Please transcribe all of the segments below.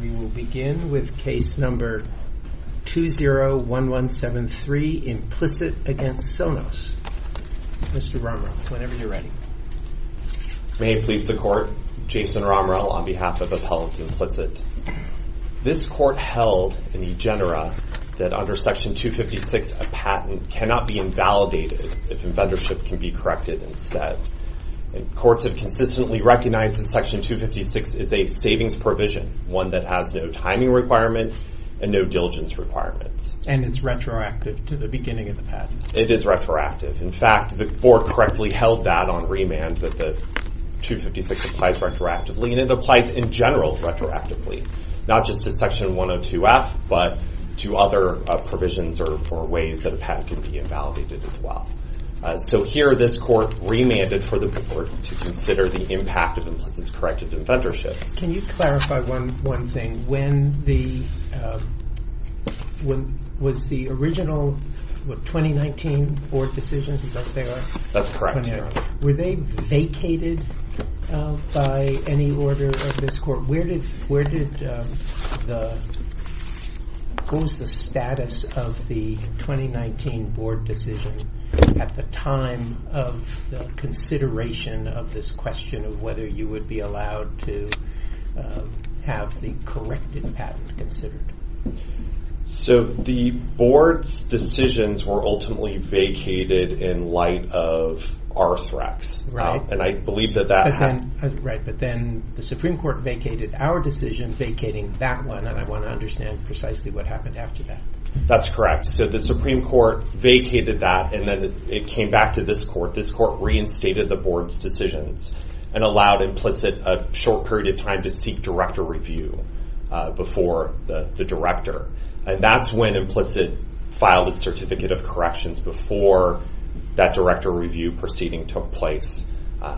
We will begin with case number 201173, Implicit against Sonos. Mr. Romrel, whenever you're ready. May it please the Court, Jason Romrel on behalf of Appellant Implicit. This Court held in eGenera that under Section 256 a patent cannot be invalidated if inventorship can be corrected instead. Courts have consistently recognized that Section 256 is a savings provision, one that has no timing requirement and no diligence requirements. And it's retroactive to the beginning of the patent. It is retroactive. In fact, the Board correctly held that on remand that the 256 applies retroactively, and it applies in general retroactively, not just to Section 102F, but to other provisions or ways that a patent can be invalidated as well. So here this Court remanded for the Board to consider the impact of Implicit's corrected inventorships. Can you clarify one thing? When the, was the original 2019 Board decisions, is that there? That's correct. Were they vacated by any order of this Court? Where did the, what was the status of the 2019 Board decision at the time of the consideration of this question of whether you would be allowed to have the corrected patent considered? So the Board's decisions were ultimately vacated in light of Arthrex. Right. And I believe that that happened. Right, but then the Supreme Court vacated our decision vacating that one, and I want to understand precisely what happened after that. That's correct. So the Supreme Court vacated that, and then it came back to this Court. This Court reinstated the Board's decisions. And allowed Implicit a short period of time to seek director review before the director. And that's when Implicit filed a certificate of corrections before that director review proceeding took place.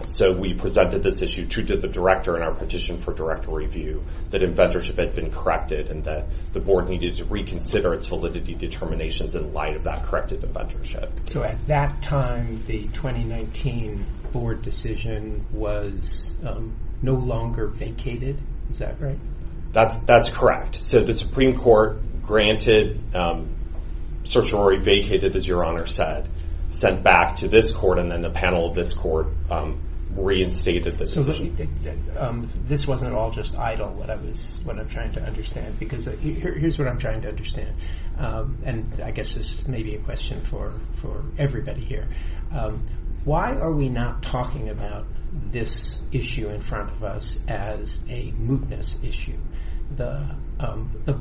So we presented this issue to the director and our petition for director review that inventorship had been corrected and that the Board needed to reconsider its validity determinations in light of that corrected inventorship. So at that time, the 2019 Board decision was no longer vacated. Is that right? That's correct. So the Supreme Court granted certiorari vacated, as your Honor said, sent back to this Court, and then the panel of this Court reinstated the decision. This wasn't at all just idle, what I'm trying to understand, because here's what I'm trying to understand. And I guess this may be a question for everybody here. Why are we not talking about this issue in front of us as a mootness issue? The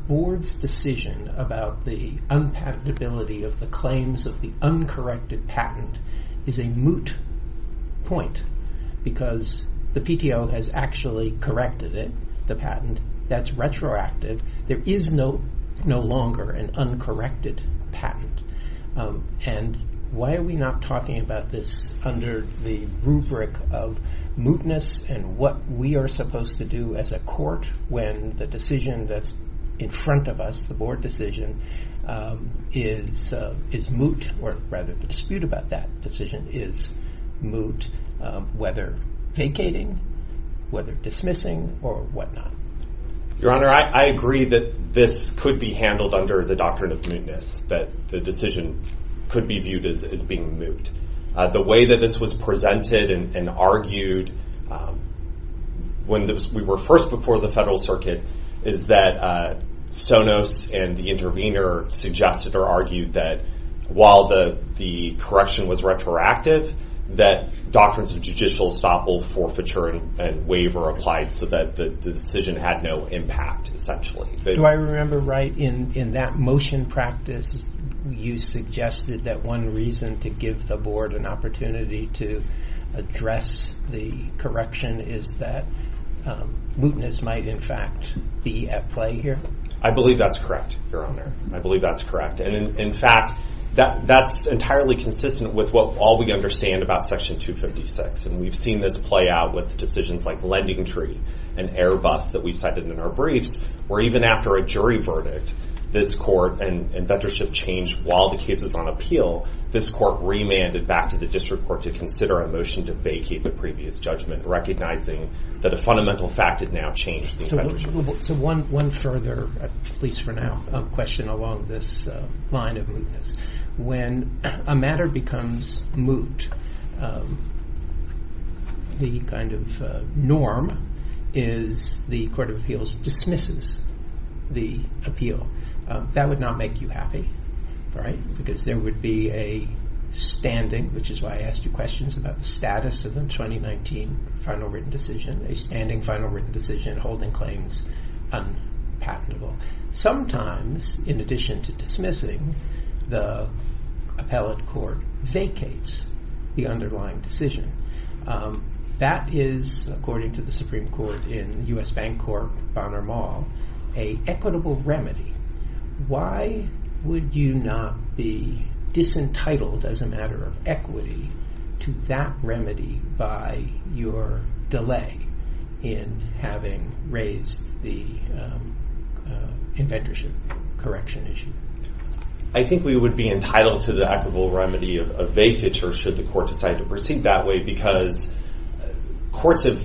Board's decision about the unpatentability of the claims of the uncorrected patent is a moot point, because the PTO has actually corrected it, the patent, that's retroactive. There is no longer an uncorrected patent. And why are we not talking about this under the rubric of mootness and what we are supposed to do as a Court when the decision that's in front of us, the Board decision, is moot, or rather the dispute about that decision is moot, whether vacating, whether dismissing, or whatnot? Your Honor, I agree that this could be handled under the doctrine of mootness, that the decision could be viewed as being moot. The way that this was presented and argued when we were first before the Federal Circuit is that Sonos and the intervener suggested or argued that while the correction was retroactive, that doctrines of judicial estoppel, forfeiture, and waiver applied so that the decision had no impact, essentially. Do I remember right, in that motion practice, you suggested that one reason to give the Board an opportunity to address the correction is that mootness might, in fact, be at play here? I believe that's correct, Your Honor. I believe that's correct. In fact, that's entirely consistent with all we understand about Section 256, and we've seen this play out with decisions like Lending Tree and Airbus that we cited in our briefs, where even after a jury verdict, this court and veteranship changed while the case was on appeal. This court remanded back to the district court to consider a motion to vacate the previous judgment, recognizing that a fundamental fact had now changed the veteranship. So one further, at least for now, question along this line of mootness. When a matter becomes moot, the kind of norm is the Court of Appeals dismisses the appeal. That would not make you happy, right? Because there would be a standing, which is why I asked you questions about the status of the 2019 final written decision, a standing final written decision holding claims unpatentable. Sometimes, in addition to dismissing, the appellate court vacates the underlying decision. That is, according to the Supreme Court in U.S. Bank Corp Bonner Mall, a equitable remedy. Why would you not be disentitled as a matter of equity to that remedy by your delay in having raised the inventorship correction issue? I think we would be entitled to the equitable remedy of vacature should the court decide to proceed that way because courts have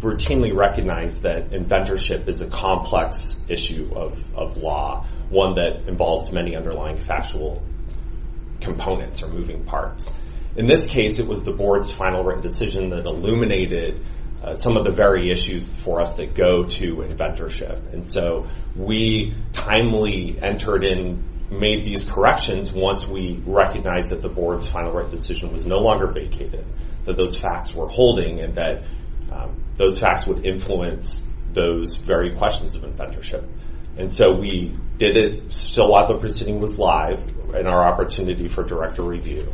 routinely recognized that inventorship is a complex issue of law, one that involves many underlying factual components or moving parts. In this case, it was the board's final written decision that illuminated some of the very issues for us that go to inventorship. And so, we timely entered and made these corrections once we recognized that the board's final written decision was no longer vacated, that those facts were holding, and that those facts would influence those very questions of inventorship. And so, we did it still while the proceeding was live and our opportunity for direct review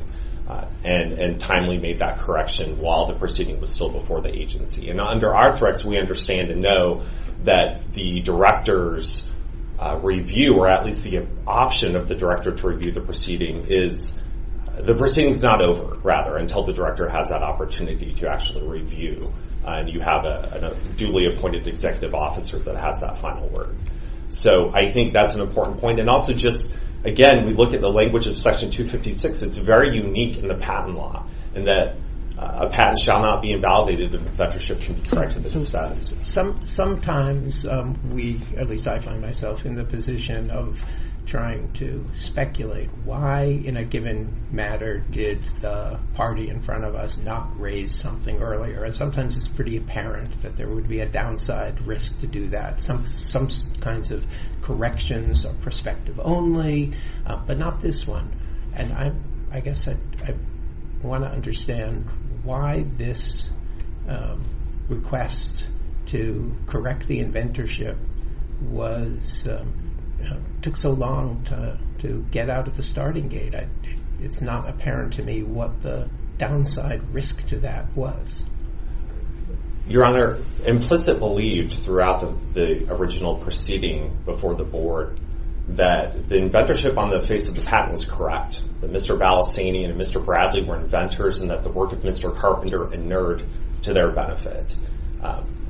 and timely made that correction while the proceeding was still before the agency. And under our threats, we understand and know that the director's review, or at least the option of the director to review the proceeding is, the proceeding is not over, rather, until the director has that opportunity to actually review. And you have a duly appointed executive officer that has that final word. So, I think that's an important point. And also just, again, we look at the language of section 256. It's very unique in the patent law in that a patent shall not be invalidated if inventorship can be corrected. Sometimes we, at least I find myself in the position of trying to speculate why in a given matter did the party in front of us not raise something earlier. And sometimes it's pretty apparent that there would be a downside risk to do that. Some kinds of corrections are perspective only, but not this one. And I guess I want to understand why this request to correct the inventorship took so long to get out of the starting gate. It's not apparent to me what the downside risk to that was. Your Honor, implicit belief throughout the original proceeding before the board that the inventorship on the face of the patent was correct. That Mr. Ballestani and Mr. Bradley were inventors and that the work of Mr. Carpenter inerred to their benefit.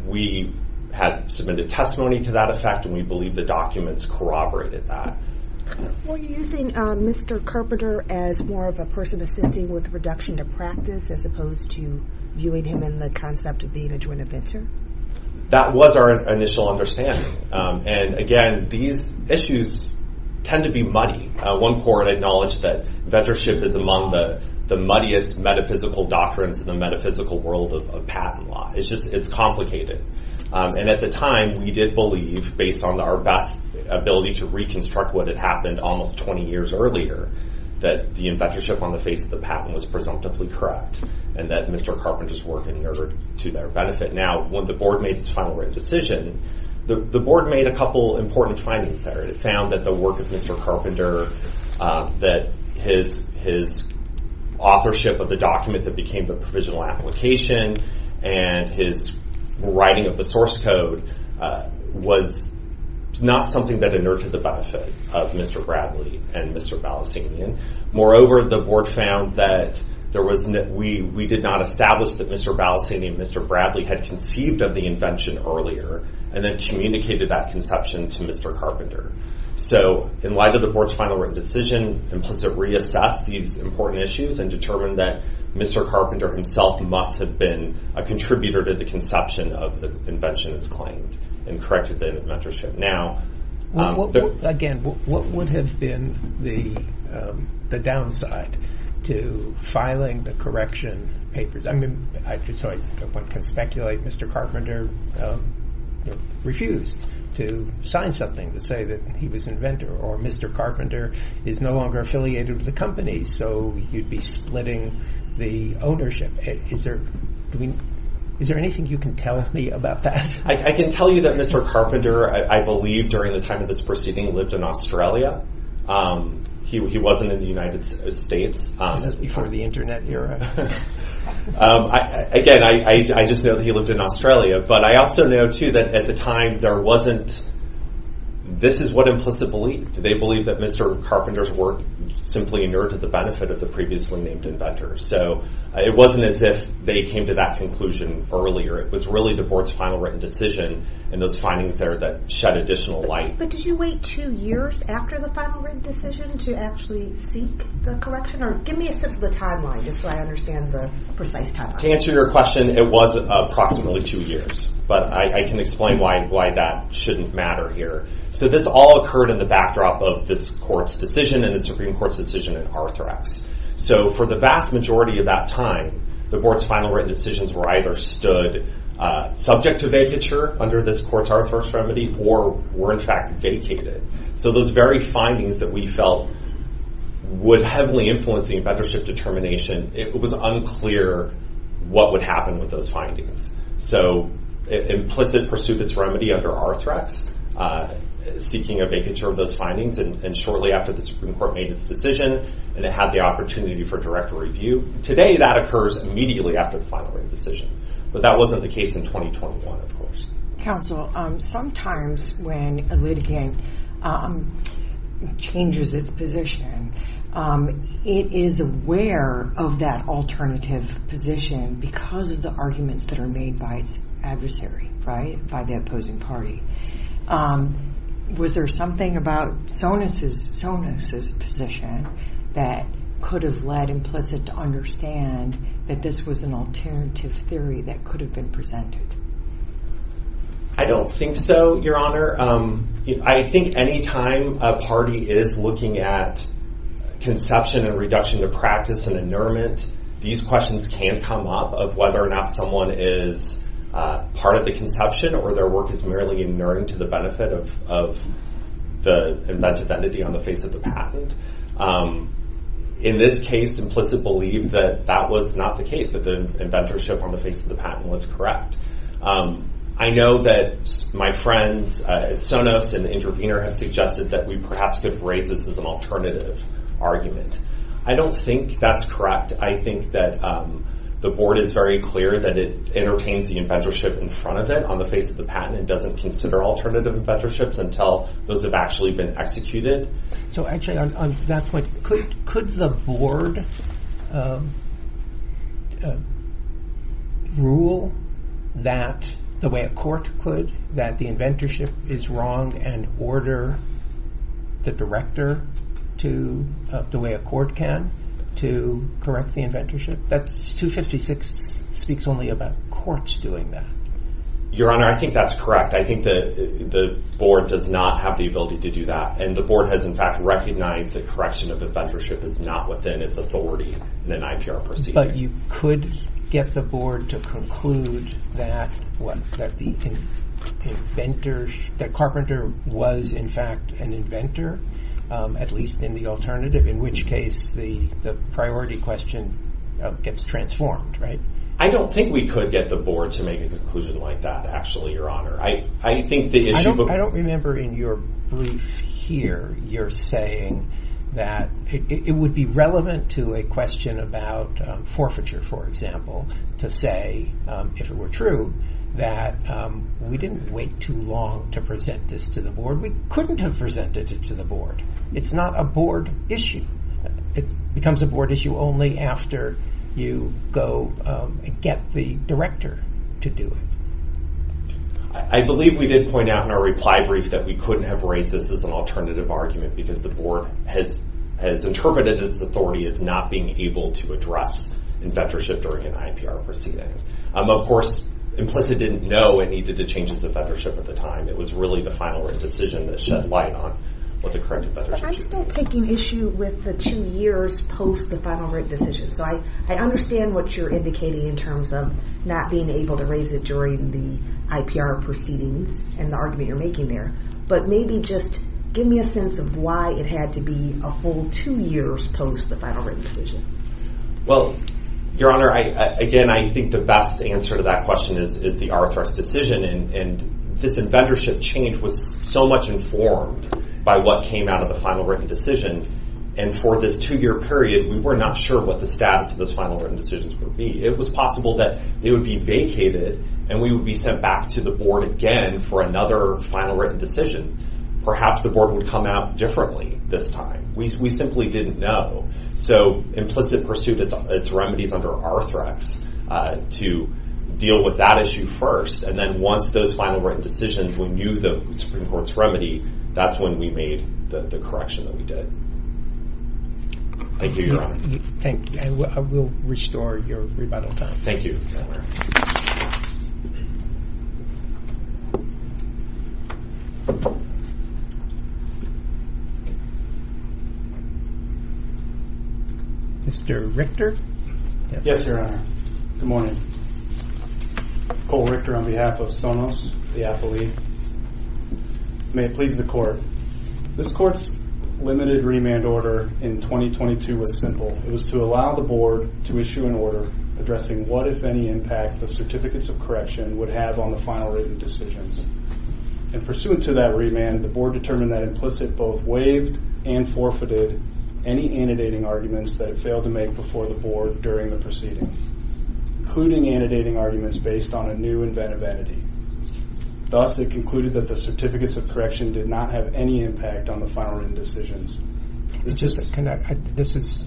We had submitted testimony to that effect and we believe the documents corroborated that. Were you using Mr. Carpenter as more of a person assisting with reduction to practice as opposed to viewing him in the concept of being a joint inventor? That was our initial understanding. And again, these issues tend to be muddy. One court acknowledged that inventorship is among the muddiest metaphysical doctrines in the metaphysical world of patent law. It's complicated. And at the time, we did believe, based on our best ability to reconstruct what had happened almost 20 years earlier, that the inventorship on the face of the patent was presumptively correct and that Mr. Carpenter's work inerred to their benefit. Now, when the board made its final written decision, the board made a couple important findings there. It found that the work of Mr. Carpenter, that his authorship of the document that became the provisional application and his writing of the source code was not something that inerred to the benefit of Mr. Bradley and Mr. Balistanian. Moreover, the board found that we did not establish that Mr. Balistanian and Mr. Bradley had conceived of the invention earlier and then communicated that conception to Mr. Carpenter. So, in light of the board's final written decision, implicit reassessed these important issues and determined that Mr. Carpenter himself must have been a contributor to the conception of the invention that's claimed and corrected the inventorship. Now- Again, what would have been the downside to filing the correction papers? So, one can speculate Mr. Carpenter refused to sign something to say that he was inventor or Mr. Carpenter is no longer affiliated with the company, so you'd be splitting the ownership. Is there anything you can tell me about that? I can tell you that Mr. Carpenter, I believe during the time of this proceeding, lived in Australia. He wasn't in the United States. This is before the internet era. Again, I just know that he lived in Australia, but I also know, too, that at the time, there wasn't- This is what implicit believed. They believed that Mr. Carpenter's work simply inured to the benefit of the previously named inventor. So, it wasn't as if they came to that conclusion earlier. It was really the board's final written decision and those findings there that shed additional light. But did you wait two years after the final written decision to actually seek the correction? Or give me a sense of the timeline just so I understand the precise timeline. To answer your question, it was approximately two years, but I can explain why that shouldn't matter here. So, this all occurred in the backdrop of this court's decision and the Supreme Court's decision in Arthrex. So, for the vast majority of that time, the board's final written decisions were either stood subject to vacature under this court's Arthrex remedy or were, in fact, vacated. So, those very findings that we felt would heavily influence the inventorship determination, it was unclear what would happen with those findings. So, implicit pursuit of its remedy under Arthrex, seeking a vacature of those findings, and shortly after the Supreme Court made its decision and it had the opportunity for direct review. Today, that occurs immediately after the final written decision. But that wasn't the case in 2021, of course. Counsel, sometimes when a litigant changes its position, it is aware of that alternative position because of the arguments that are made by its adversary, right, by the opposing party. Was there something about Sonis' position that could have led Implicit to understand that this was an alternative theory that could have been presented? I don't think so, Your Honor. I think any time a party is looking at conception and reduction of practice and inurement, these questions can come up of whether or not someone is part of the conception or their work is merely inurent to the benefit of the inventive entity on the face of the patent. In this case, Implicit believed that that was not the case, that the inventorship on the face of the patent was correct. I know that my friends at Sonos and Intervenor have suggested that we perhaps could have raised this as an alternative argument. I don't think that's correct. I think that the board is very clear that it entertains the inventorship in front of it on the face of the patent. It doesn't consider alternative inventorships until those have actually been executed. So, actually, on that point, could the board rule that the way a court could, that the inventorship is wrong, and order the director to, the way a court can, to correct the inventorship? That's 256 speaks only about courts doing that. Your Honor, I think that's correct. I think that the board does not have the ability to do that, and the board has, in fact, recognized that correction of inventorship is not within its authority in an IPR proceeding. But you could get the board to conclude that the inventor, that Carpenter was, in fact, an inventor, at least in the alternative, in which case the priority question gets transformed, right? I don't think we could get the board to make a conclusion like that, actually, Your Honor. I think the issue... I don't remember in your brief here, you're saying that it would be relevant to a question about forfeiture, for example, to say, if it were true, that we didn't wait too long to present this to the board. We couldn't have presented it to the board. It's not a board issue. It becomes a board issue only after you go get the director to do it. I believe we did point out in our reply brief that we couldn't have raised this as an alternative argument because the board has interpreted its authority as not being able to address inventorship during an IPR proceeding. Of course, implicit didn't know it needed to change its inventorship at the time. It was really the final written decision that shed light on what the current inventorship is. I'm still taking issue with the two years post the final written decision, so I understand what you're indicating in terms of not being able to raise it during the IPR proceedings and the argument you're making there, but maybe just give me a sense of why it had to be a whole two years post the final written decision. Well, Your Honor, again, I think the best answer to that question is the Arthur's decision, and this inventorship change was so much informed by what came out of the final written decision, and for this two-year period, we were not sure what the status of those final written decisions would be. It was possible that they would be vacated, and we would be sent back to the board again for another final written decision. Perhaps the board would come out differently this time. We simply didn't know, so implicit pursued its remedies under Arthrex to deal with that issue first, and then once those final written decisions were new to the Supreme Court's remedy, that's when we made the correction that we did. Thank you, Your Honor. Thank you. I will restore your rebuttal time. Thank you, Your Honor. Mr. Richter? Yes, Your Honor. Good morning. Cole Richter on behalf of Sonos, the athlete. May it please the court, this court's limited remand order in 2022 was simple. It was to allow the board to issue an order addressing what, if any, impact the Certificates of Correction would have on the final written decisions, and pursuant to that remand, the board determined that implicit both waived and forfeited any annotating arguments that it failed to make before the board during the proceeding, including annotating arguments based on a new inventive entity. Thus, it concluded that the Certificates of Correction did not have any impact on the final written decisions. This is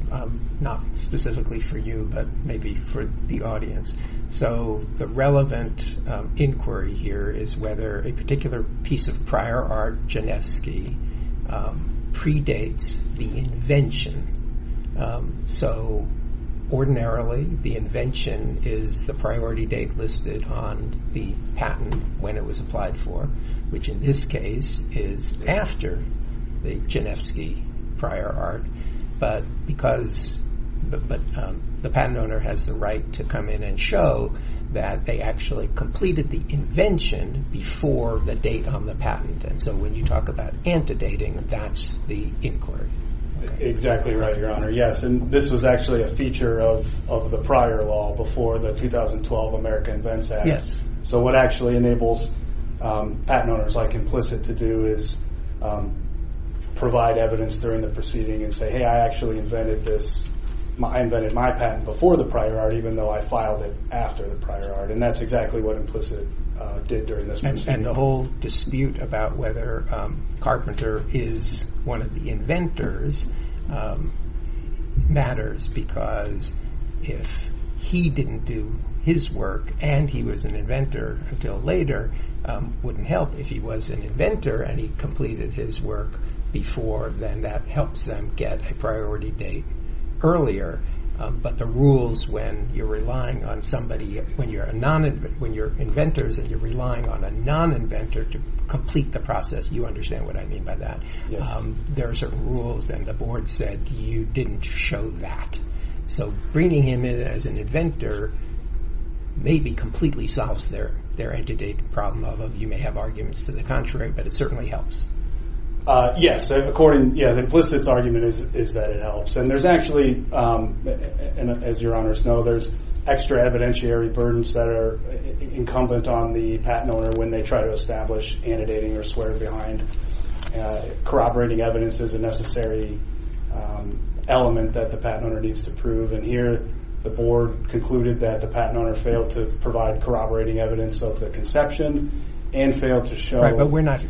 not specifically for you, but maybe for the audience. So, the relevant inquiry here is whether a particular piece of prior art, Janewski, predates the invention. So, ordinarily, the invention is the priority date listed on the patent when it was applied for, which, in this case, is after the Janewski prior art, but because the patent owner has the right to come in and show that they actually completed the invention before the date on the patent, and so when you talk about antedating, that's the inquiry. Exactly right, Your Honor. Yes, and this was actually a feature of the prior law before the 2012 American Invents Act. Yes. So, what actually enables patent owners like Implicit to do is provide evidence during the proceeding and say, hey, I actually invented this. I invented my patent before the prior art, even though I filed it after the prior art, and that's exactly what Implicit did during this proceeding. And the whole dispute about whether Carpenter is one of the inventors matters because if he didn't do his work and he was an inventor until later, wouldn't help if he was an inventor and he completed his work before, then that helps them get a priority date earlier, but the rules when you're relying on somebody, when you're inventors and you're relying on a non-inventor to complete the process, you understand what I mean by that. Yes. There are certain rules, and the board said, you didn't show that. So, bringing him in as an inventor or maybe completely solves their entity problem of, you may have arguments to the contrary, but it certainly helps. Yes, according, yeah, Implicit's argument is that it helps. And there's actually, as your honors know, there's extra evidentiary burdens that are incumbent on the patent owner when they try to establish and dating or swear behind. Corroborating evidence is a necessary element that the patent owner needs to prove, and here the board concluded that the patent owner failed to provide corroborating evidence of the conception and failed to show- But we're not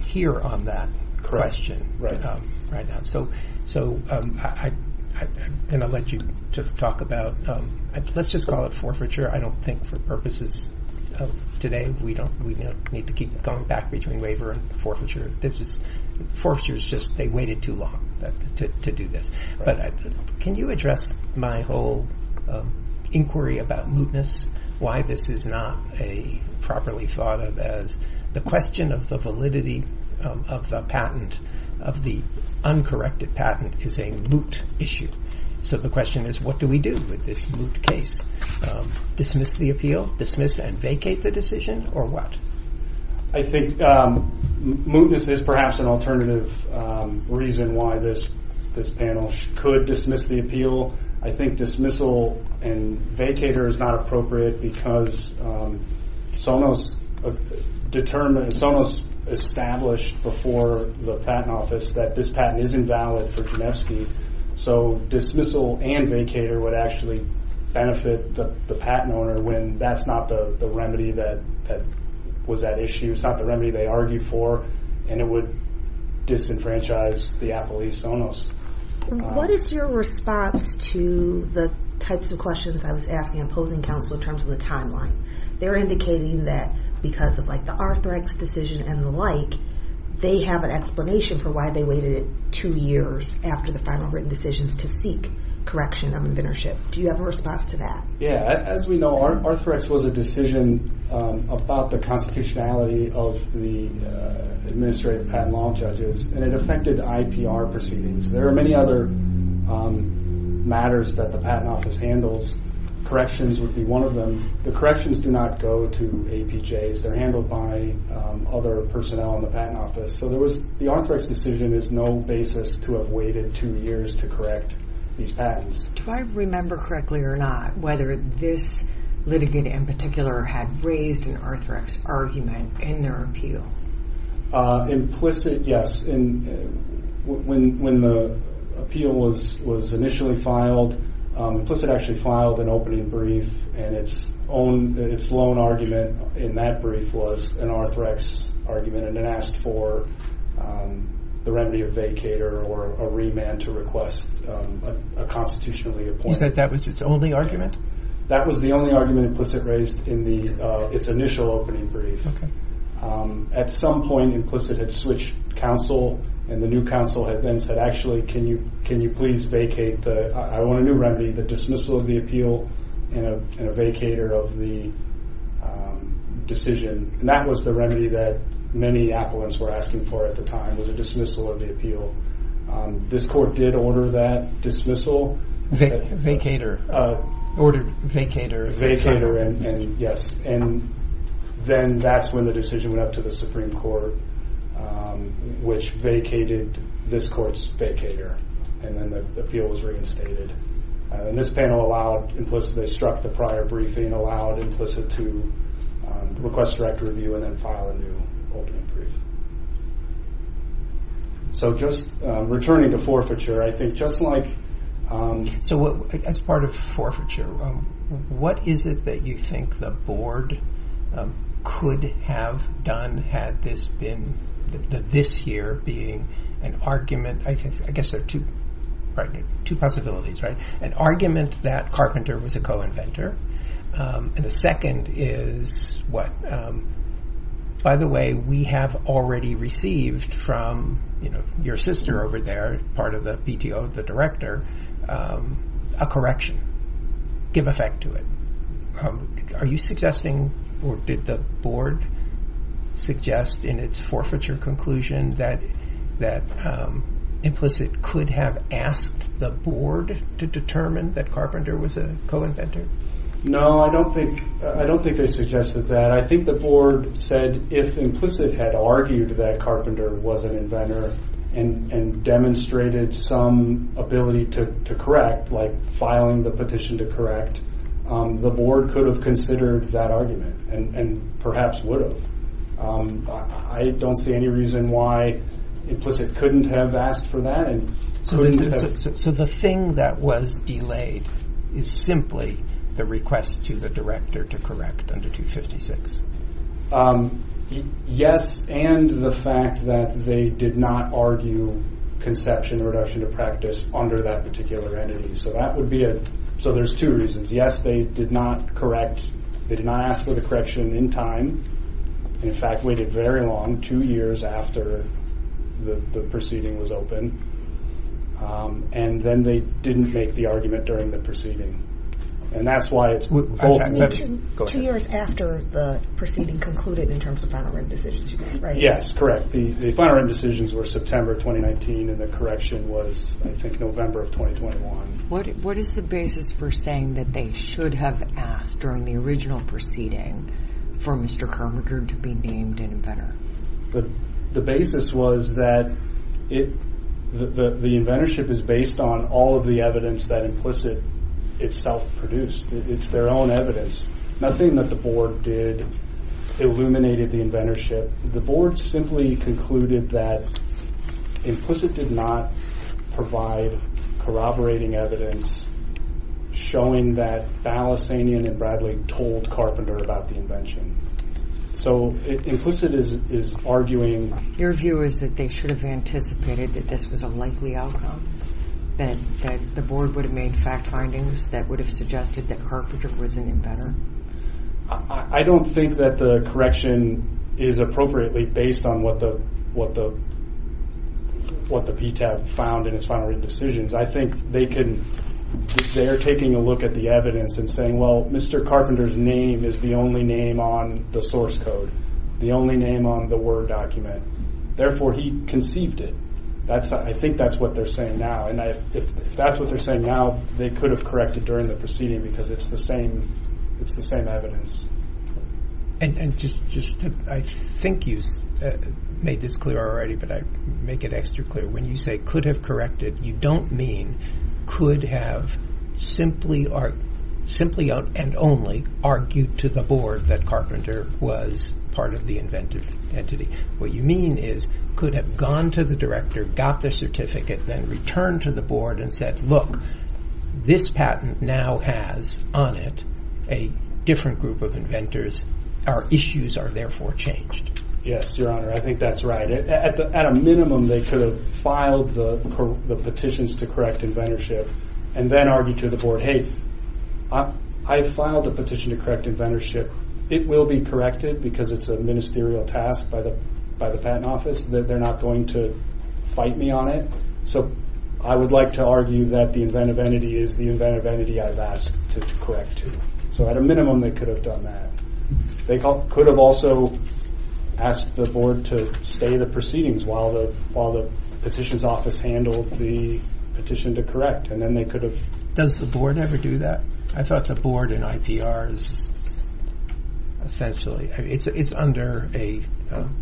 here on that question right now. So, I'm going to let you talk about, let's just call it forfeiture. I don't think for purposes of today, we don't need to keep going back between waiver and forfeiture. This is, forfeiture is just, they waited too long to do this. But can you address my whole inquiry about mootness? Why this is not a properly thought of as the question of the validity of the patent, of the uncorrected patent is a moot issue. So the question is, what do we do with this moot case? Dismiss the appeal, dismiss and vacate the decision, or what? I think mootness is perhaps an alternative reason why this panel could dismiss the appeal. I think dismissal and vacater is not appropriate because Sonos established before the patent office that this patent is invalid for Genevski. So dismissal and vacater would actually benefit the patent owner when that's not the remedy that was at issue. It's not the remedy they argued for, and it would disenfranchise the appellee Sonos. What is your response to the types of questions I was asking opposing counsel in terms of the timeline? They're indicating that because of like the Arthrex decision and the like, they have an explanation for why they waited two years after the final written decisions to seek correction of inventorship. Do you have a response to that? Yeah, as we know, Arthrex was a decision about the constitutionality of the administrative patent law judges, and it affected IPR proceedings. There are many other matters that the patent office handles. Corrections would be one of them. The corrections do not go to APJs. They're handled by other personnel in the patent office. So the Arthrex decision is no basis to have waited two years to correct these patents. Do I remember correctly or not whether this litigate in particular had raised an Arthrex argument in their appeal? Implicit, yes. And when the appeal was initially filed, implicit actually filed an opening brief, and its own argument in that brief was an Arthrex argument, and it asked for the remedy of vacator or a remand to request a constitutionally appointed. You said that was its only argument? That was the only argument implicit raised in its initial opening brief. At some point, implicit had switched counsel, and the new counsel had then said, actually, can you please vacate the... I want a new remedy, the dismissal of the appeal and a vacator of the decision. And that was the remedy that many appellants were asking for at the time, was a dismissal of the appeal. This court did order that dismissal. Vacator. Ordered vacator. Vacator, and yes. And then that's when the decision went up to the Supreme Court, which vacated this court's vacator, and then the appeal was reinstated. And this panel allowed implicitly struck the prior briefing, allowed implicit to request direct review and then file a new opening brief. So just returning to forfeiture, I think just like... So as part of forfeiture, what is it that you think the board could have done had this year being an argument... I guess there are two possibilities, right? An argument that Carpenter was a co-inventor, and the second is what? By the way, we have already received from your sister over there, part of the BTO of the director, a correction, give effect to it. Are you suggesting, or did the board suggest in its forfeiture conclusion that implicit could have asked the board to determine that Carpenter was a co-inventor? No, I don't think they suggested that. I think the board said if implicit had argued that Carpenter was an inventor and demonstrated some ability to correct, like filing the petition to correct, the board could have considered that argument and perhaps would have. I don't see any reason why implicit couldn't have asked for that and couldn't have... So the thing that was delayed is simply the request to the director to correct under 256. Yes, and the fact that they did not argue conception, reduction of practice under that particular entity. So that would be a... So there's two reasons. Yes, they did not correct. They did not ask for the correction in time. In fact, waited very long, two years after the proceeding was open, and then they didn't make the argument during the proceeding. And that's why it's... Two years after the proceeding concluded in terms of final written decisions, you mean, right? Yes, correct. The final written decisions were September 2019, and the correction was, I think, November of 2021. What is the basis for saying that they should have asked during the original proceeding for Mr. Carpenter to be named an inventor? The basis was that the inventorship is based on all of the evidence that implicit itself produced. It's their own evidence. Nothing that the board did illuminated the inventorship. The board simply concluded that implicit did not provide corroborating evidence showing that Balasanian and Bradley told Carpenter about the invention. So implicit is arguing... Your view is that they should have anticipated that this was a likely outcome, that the board would have made fact findings that would have suggested that Carpenter was an inventor? I don't think that the correction is appropriately based on what the PTAB found in its final written decisions. I think they are taking a look at the evidence and saying, well, Mr. Carpenter's name is the only name on the source code, the only name on the Word document. Therefore, he conceived it. I think that's what they're saying now. And if that's what they're saying now, they could have corrected during the proceeding because it's the same evidence. And just to... I think you made this clear already, but I make it extra clear. When you say could have corrected, you don't mean could have simply and only argued to the board that Carpenter was part of the inventive entity. What you mean is could have gone to the director, got the certificate, then returned to the board and said, look, this patent now has on it a different group of inventors. Our issues are therefore changed. Yes, your honor, I think that's right. At a minimum, they could have filed the petitions to correct inventorship and then argued to the board, hey, I filed a petition to correct inventorship. It will be corrected because it's a ministerial task by the patent office. They're not going to fight me on it. So I would like to argue that the inventive entity is the inventive entity I've asked to correct to. So at a minimum, they could have done that. They could have also asked the board to stay in the proceedings while the petitions office handled the petition to correct. And then they could have... Does the board ever do that? I thought the board in IPR is essentially... It's under a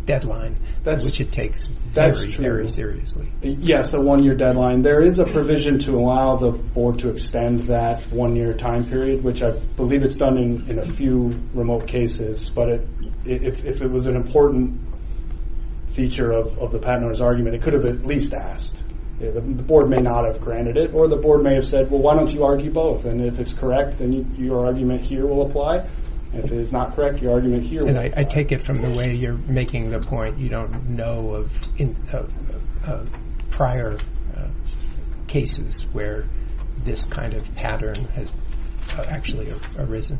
deadline, which it takes very, very seriously. Yes, a one-year deadline. There is a provision to allow the board to extend that one-year time period, which I believe it's done in a few remote cases. But if it was an important feature of the patent owner's argument, it could have at least asked. The board may not have granted it, or the board may have said, well, why don't you argue both? And if it's correct, then your argument here will apply. If it is not correct, your argument here will apply. I take it from the way you're making the point. You don't know of prior cases where this kind of pattern has actually arisen?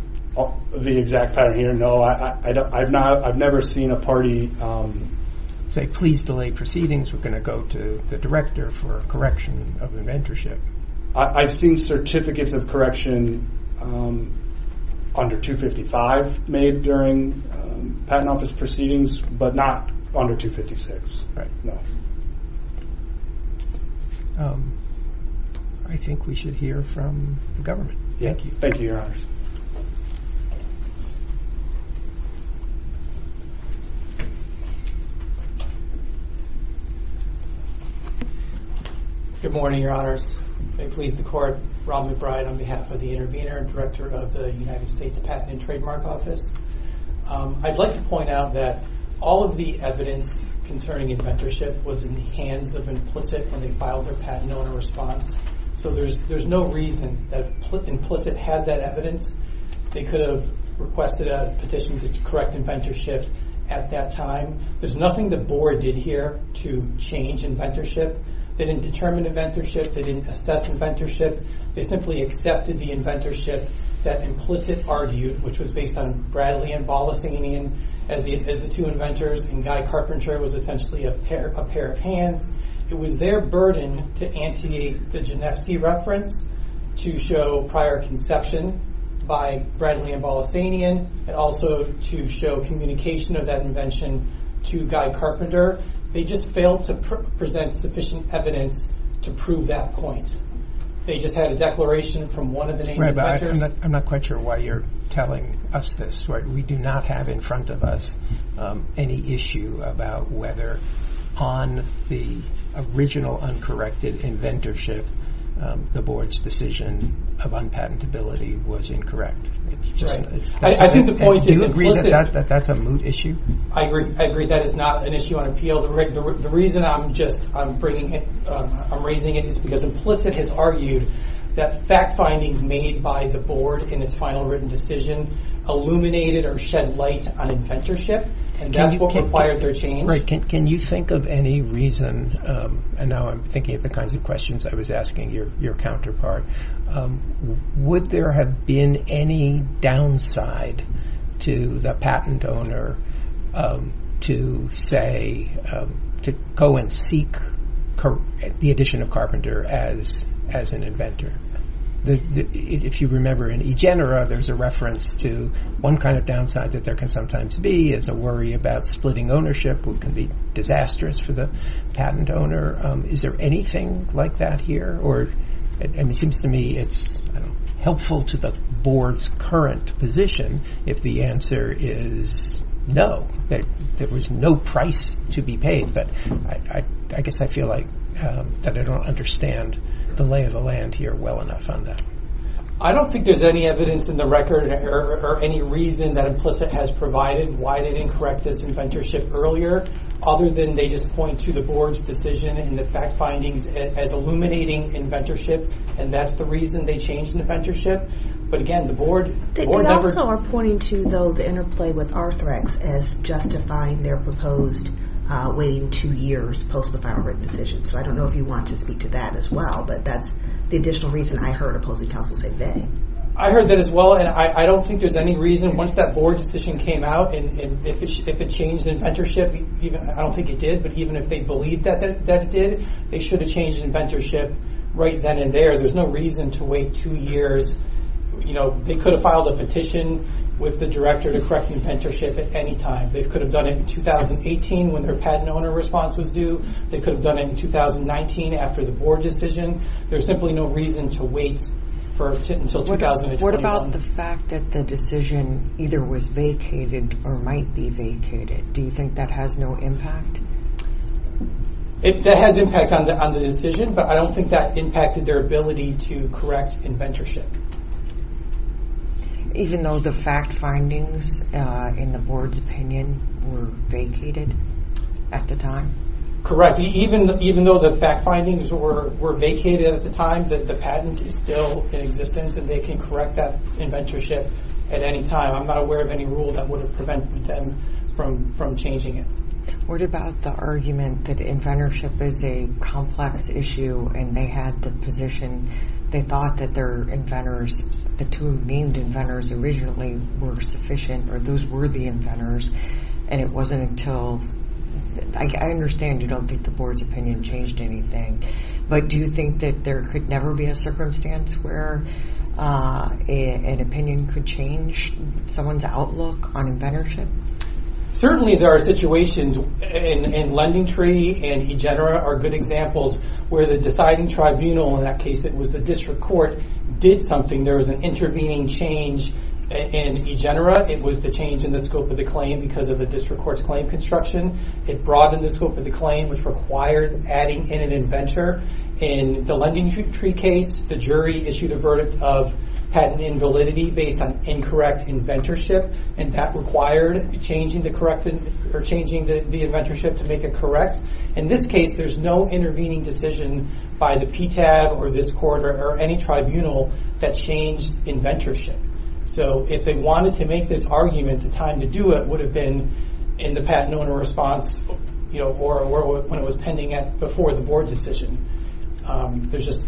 The exact pattern here, no. I've never seen a party say, please delay proceedings. We're going to go to the director for a correction of the mentorship. I've seen certificates of correction under 255 made during patent office proceedings, but not under 256. Right. No. I think we should hear from the government. Thank you. Thank you, your honors. Good morning, your honors. May it please the court, Robin McBride on behalf of the intervener and director of the United States Patent and Trademark Office. I'd like to point out that all of the evidence concerning inventorship was in the hands of Implicit when they filed their patent owner response. So there's no reason that Implicit had that evidence. They could have requested a petition to correct inventorship at that time. There's nothing the board did here to change inventorship. They didn't determine inventorship. They didn't assess inventorship. They simply accepted the inventorship that Implicit argued, which was based on Bradley and Bolasanian as the two inventors, and Guy Carpenter was essentially a pair of hands. It was their burden to anteate the Geneski reference, to show prior conception by Bradley and Bolasanian, and also to show communication of that invention to Guy Carpenter. They just failed to present sufficient evidence to prove that point. They just had a declaration from one of the name inventors. I'm not quite sure why you're telling us this, right? We do not have in front of us any issue about whether on the original uncorrected inventorship the board's decision of unpatentability was incorrect. I think the point is Implicit- That's a moot issue. I agree. I agree. That is not an issue on appeal. The reason I'm raising it is because Implicit has argued that fact findings made by the board in its final written decision illuminated or shed light on inventorship, and that's what required their change. Can you think of any reason, and now I'm thinking of the kinds of questions I was asking your counterpart, would there have been any downside to the patent owner to say, to go and seek the addition of Carpenter as an inventor? If you remember in eGenera there's a reference to one kind of downside that there can sometimes be is a worry about splitting ownership which can be disastrous for the patent owner. Is there anything like that here? Or it seems to me it's helpful to the board's current position if the answer is no, that there was no price to be paid. But I guess I feel like that I don't understand the lay of the land here well enough on that. I don't think there's any evidence in the record or any reason that Implicit has provided why they didn't correct this inventorship earlier other than they just point to the board's decision and the fact findings as illuminating inventorship, and that's the reason they changed inventorship. But again, the board never- They also are pointing to, though, the interplay with Arthrex as justifying their proposed waiting two years post the final written decision. So I don't know if you want to speak to that as well, but that's the additional reason I heard opposing counsel say they. I heard that as well, and I don't think there's any reason. Once that board decision came out, and if it changed inventorship, I don't think it did, but even if they believed that it did, they should have changed inventorship right then and there. There's no reason to wait two years. They could have filed a petition with the director to correct inventorship at any time. They could have done it in 2018 when their patent owner response was due. They could have done it in 2019 after the board decision. There's simply no reason to wait until 2021. What about the fact that the decision either was vacated or might be vacated? Do you think that has no impact? That has impact on the decision, but I don't think that impacted their ability to correct inventorship. Even though the fact findings in the board's opinion were vacated at the time? Correct. Even though the fact findings were vacated at the time, the patent is still in existence, and they can correct that inventorship at any time. I'm not aware of any rule that would prevent them from changing it. What about the argument that inventorship is a complex issue, and they had the position, they thought that their inventorship would be the two named inventors originally were sufficient, or those were the inventors, and it wasn't until... I understand you don't think the board's opinion changed anything, but do you think that there could never be a circumstance where an opinion could change someone's outlook on inventorship? Certainly, there are situations, and LendingTree and EGENERA are good examples, where the deciding tribunal in that case that was the district court did something. There was an intervening change in EGENERA. It was the change in the scope of the claim because of the district court's claim construction. It broadened the scope of the claim, which required adding in an inventor. In the LendingTree case, the jury issued a verdict of patent invalidity based on incorrect inventorship, and that required changing the inventorship to make it correct. In this case, there's no intervening decision by the PTAB or this court or any tribunal that changed inventorship, so if they wanted to make this argument, the time to do it would have been in the patent owner response or when it was pending before the board decision. There's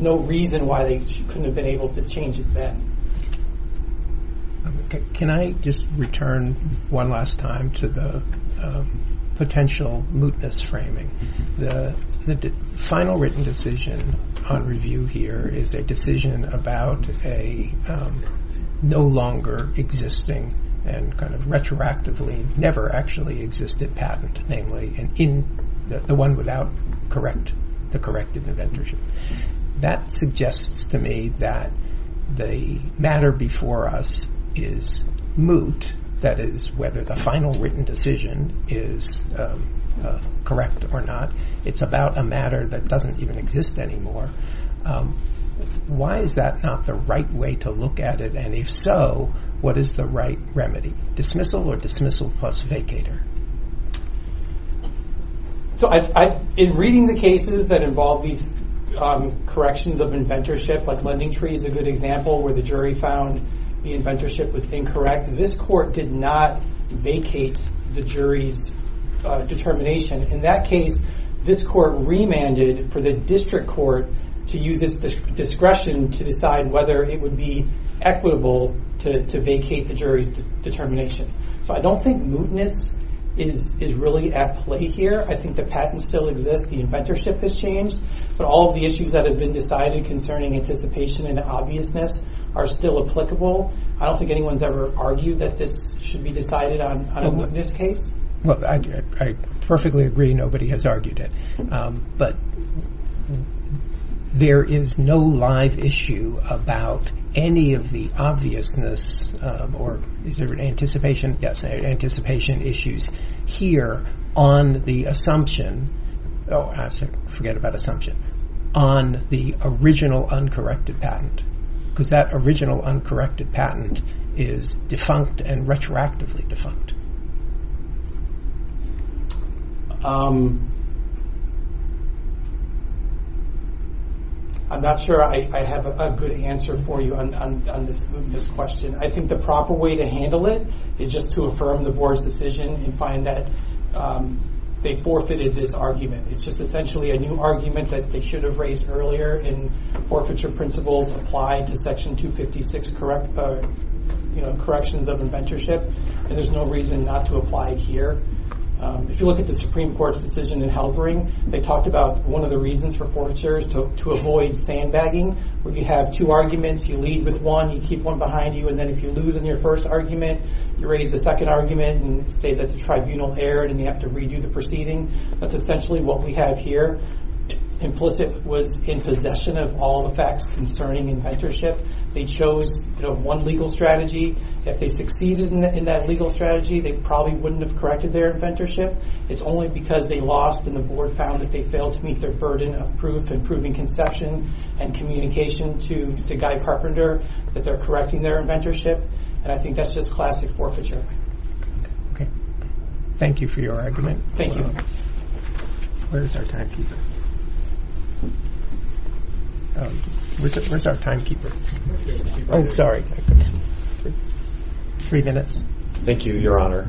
no reason why they couldn't have been able to change it then. Can I just return one last time to the potential mootness framing? The final written decision on review here is a decision about a no longer existing and kind of retroactively never actually existed patent, namely the one without the correct inventorship. That suggests to me that the matter before us is moot, that is, whether the final written decision is correct or not. It's about a matter that doesn't even exist anymore. Why is that not the right way to look at it, and if so, what is the right remedy? Dismissal or dismissal plus vacater? So in reading the cases that involve these corrections of inventorship, like LendingTree is a good example where the jury found the inventorship was incorrect, this court did not vacate the jury's determination. In that case, this court remanded for the district court to use its discretion to decide whether it would be equitable to vacate the jury's determination. So I don't think mootness is really at play here. I think the patent still exists, the inventorship has changed, but all of the issues that have been decided concerning anticipation and obviousness are still applicable. I don't think anyone's ever argued that this should be decided on a mootness case. Well, I perfectly agree. Nobody has argued it, but there is no live issue about any of the obviousness, or is there an anticipation? Yes, there are anticipation issues here on the assumption, oh, I forget about assumption, on the original uncorrected patent, because that original uncorrected patent is defunct and retroactively defunct. I'm not sure I have a good answer for you on this question. I think the proper way to handle it is just to affirm the board's decision and find that they forfeited this argument. It's just essentially a new argument that they should have raised earlier in forfeiture principles applied to section 256 corrections of inventorship, and there's no reason not to apply it here. If you look at the Supreme Court's decision in Halvering, they talked about one of the reasons for forfeiture is to avoid sandbagging, where you have two arguments, you lead with one, you keep one behind you, and then if you lose in your first argument, you raise the second argument and say that the tribunal erred and you have to redo the proceeding. That's essentially what we have here. Implicit was in possession of all the facts concerning inventorship. They chose one legal strategy. If they succeeded in that legal strategy, they probably wouldn't have corrected their inventorship. It's only because they lost and the board found that they failed to meet their burden of proof and proving conception and communication to Guy Carpenter that they're correcting their inventorship, and I think that's just classic forfeiture. Thank you for your argument. Thank you. Where is our timekeeper? Where's our timekeeper? Oh, sorry. Three minutes. Thank you, Your Honor.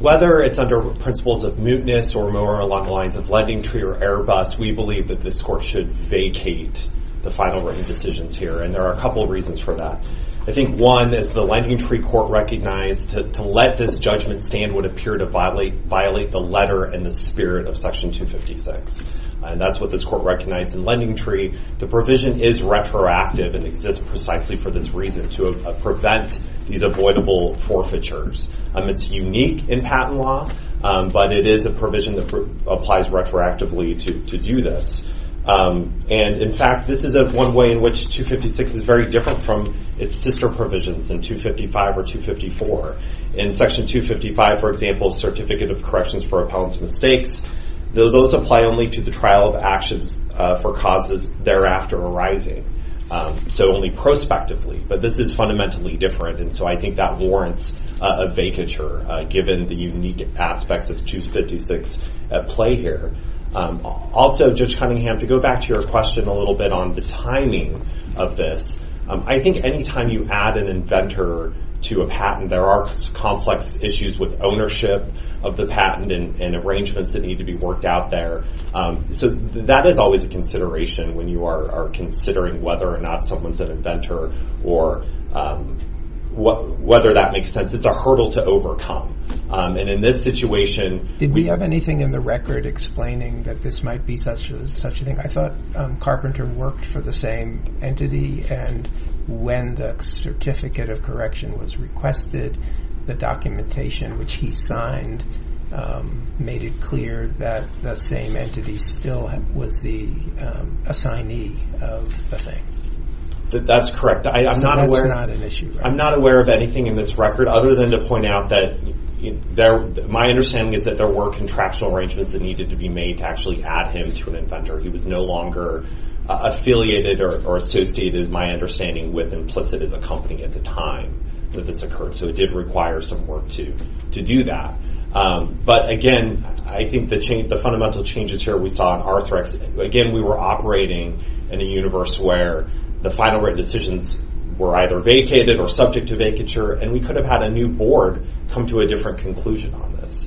Whether it's under principles of mootness or more along the lines of Lending Tree or Airbus, we believe that this court should vacate the final written decisions here, and there are a couple of reasons for that. I think one is the Lending Tree court recognized to let this judgment stand would appear to violate the letter and the spirit of Section 256, and that's what this court recognized in Lending Tree. The provision is retroactive and exists precisely for this reason, to prevent these avoidable forfeitures. It's unique in patent law, but it is a provision that applies retroactively to do this, and in fact, this is one way in which 256 is very different from its sister provisions in 255 or 254. In Section 255, for example, Certificate of Corrections for Appellant's Mistakes, those apply only to the trial of actions for causes thereafter arising, so only prospectively, but this is fundamentally different, and so I think that warrants a vacature, given the unique aspects of 256 at play here. Also, Judge Cunningham, to go back to your question a little bit on the timing of this, I think any time you add an inventor to a patent, there are complex issues with ownership of the patent and arrangements that need to be worked out there, so that is always a consideration when you are considering whether or not someone's an inventor or whether that makes sense. It's a hurdle to overcome, and in this situation... Did we have anything in the record explaining that this might be such a thing? I thought Carpenter worked for the same entity, and when the Certificate of Correction was requested, the documentation which he signed made it clear that the same entity still was the assignee of the thing. That's correct. That's not an issue, right? I'm not aware of anything in this record, other than to point out that my understanding is that there were contractual arrangements that needed to be made to actually add him to an inventor. He was no longer affiliated or associated, my understanding, with Implicit as a company at the time that this occurred, so it did require some work to do that, but again, I think the fundamental changes here we saw in Arthrex, again, we were operating in a universe where the final written decisions were either vacated or subject to vacature, and we could have had a new board come to a different conclusion on this.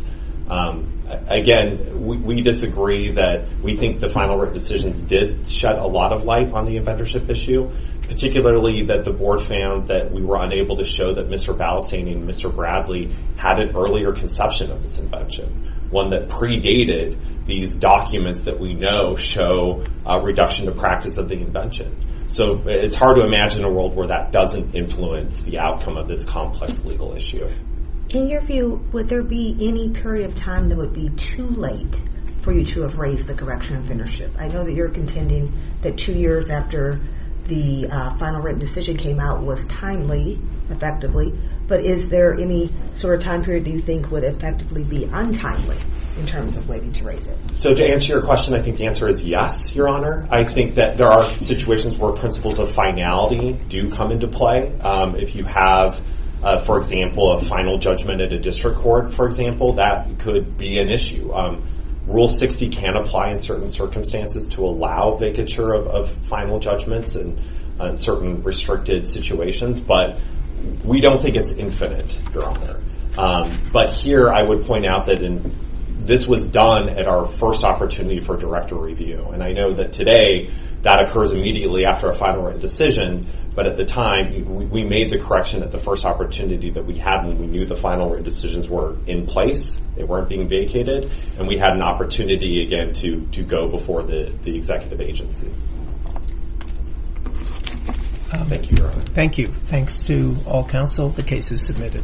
Again, we disagree that we think the final written decisions did shed a lot of light on the inventorship issue, particularly that the board found that we were unable to show that Mr. Balistain and Mr. Bradley had an earlier conception of this invention, one that predated these documents that we know show a reduction of practice of the invention, so it's hard to imagine a world where that doesn't influence the outcome of this complex legal issue. In your view, would there be any period of time that would be too late for you to have raised the correction of inventorship? I know that you're contending that two years after the final written decision came out was timely, effectively, but is there any sort of time period that you think would effectively be untimely in terms of waiting to raise it? So, to answer your question, I think the answer is yes, Your Honor. I think that there are situations where principles of finality do come into play. If you have, for example, a final judgment at a district court, for example, that could be an issue. Rule 60 can apply in certain circumstances to allow vicature of final judgments in certain restricted situations, but we don't think it's infinite, Your Honor. But here I would point out that this was done at our first opportunity for director review, and I know that today that occurs immediately after a final written decision, but at the time, we made the correction at the first opportunity that we had, and we knew the final written decisions were in place. They weren't being vacated, and we had an opportunity, again, to go before the executive agency. Thank you, Your Honor. Thank you. Thanks to all counsel. The case is submitted.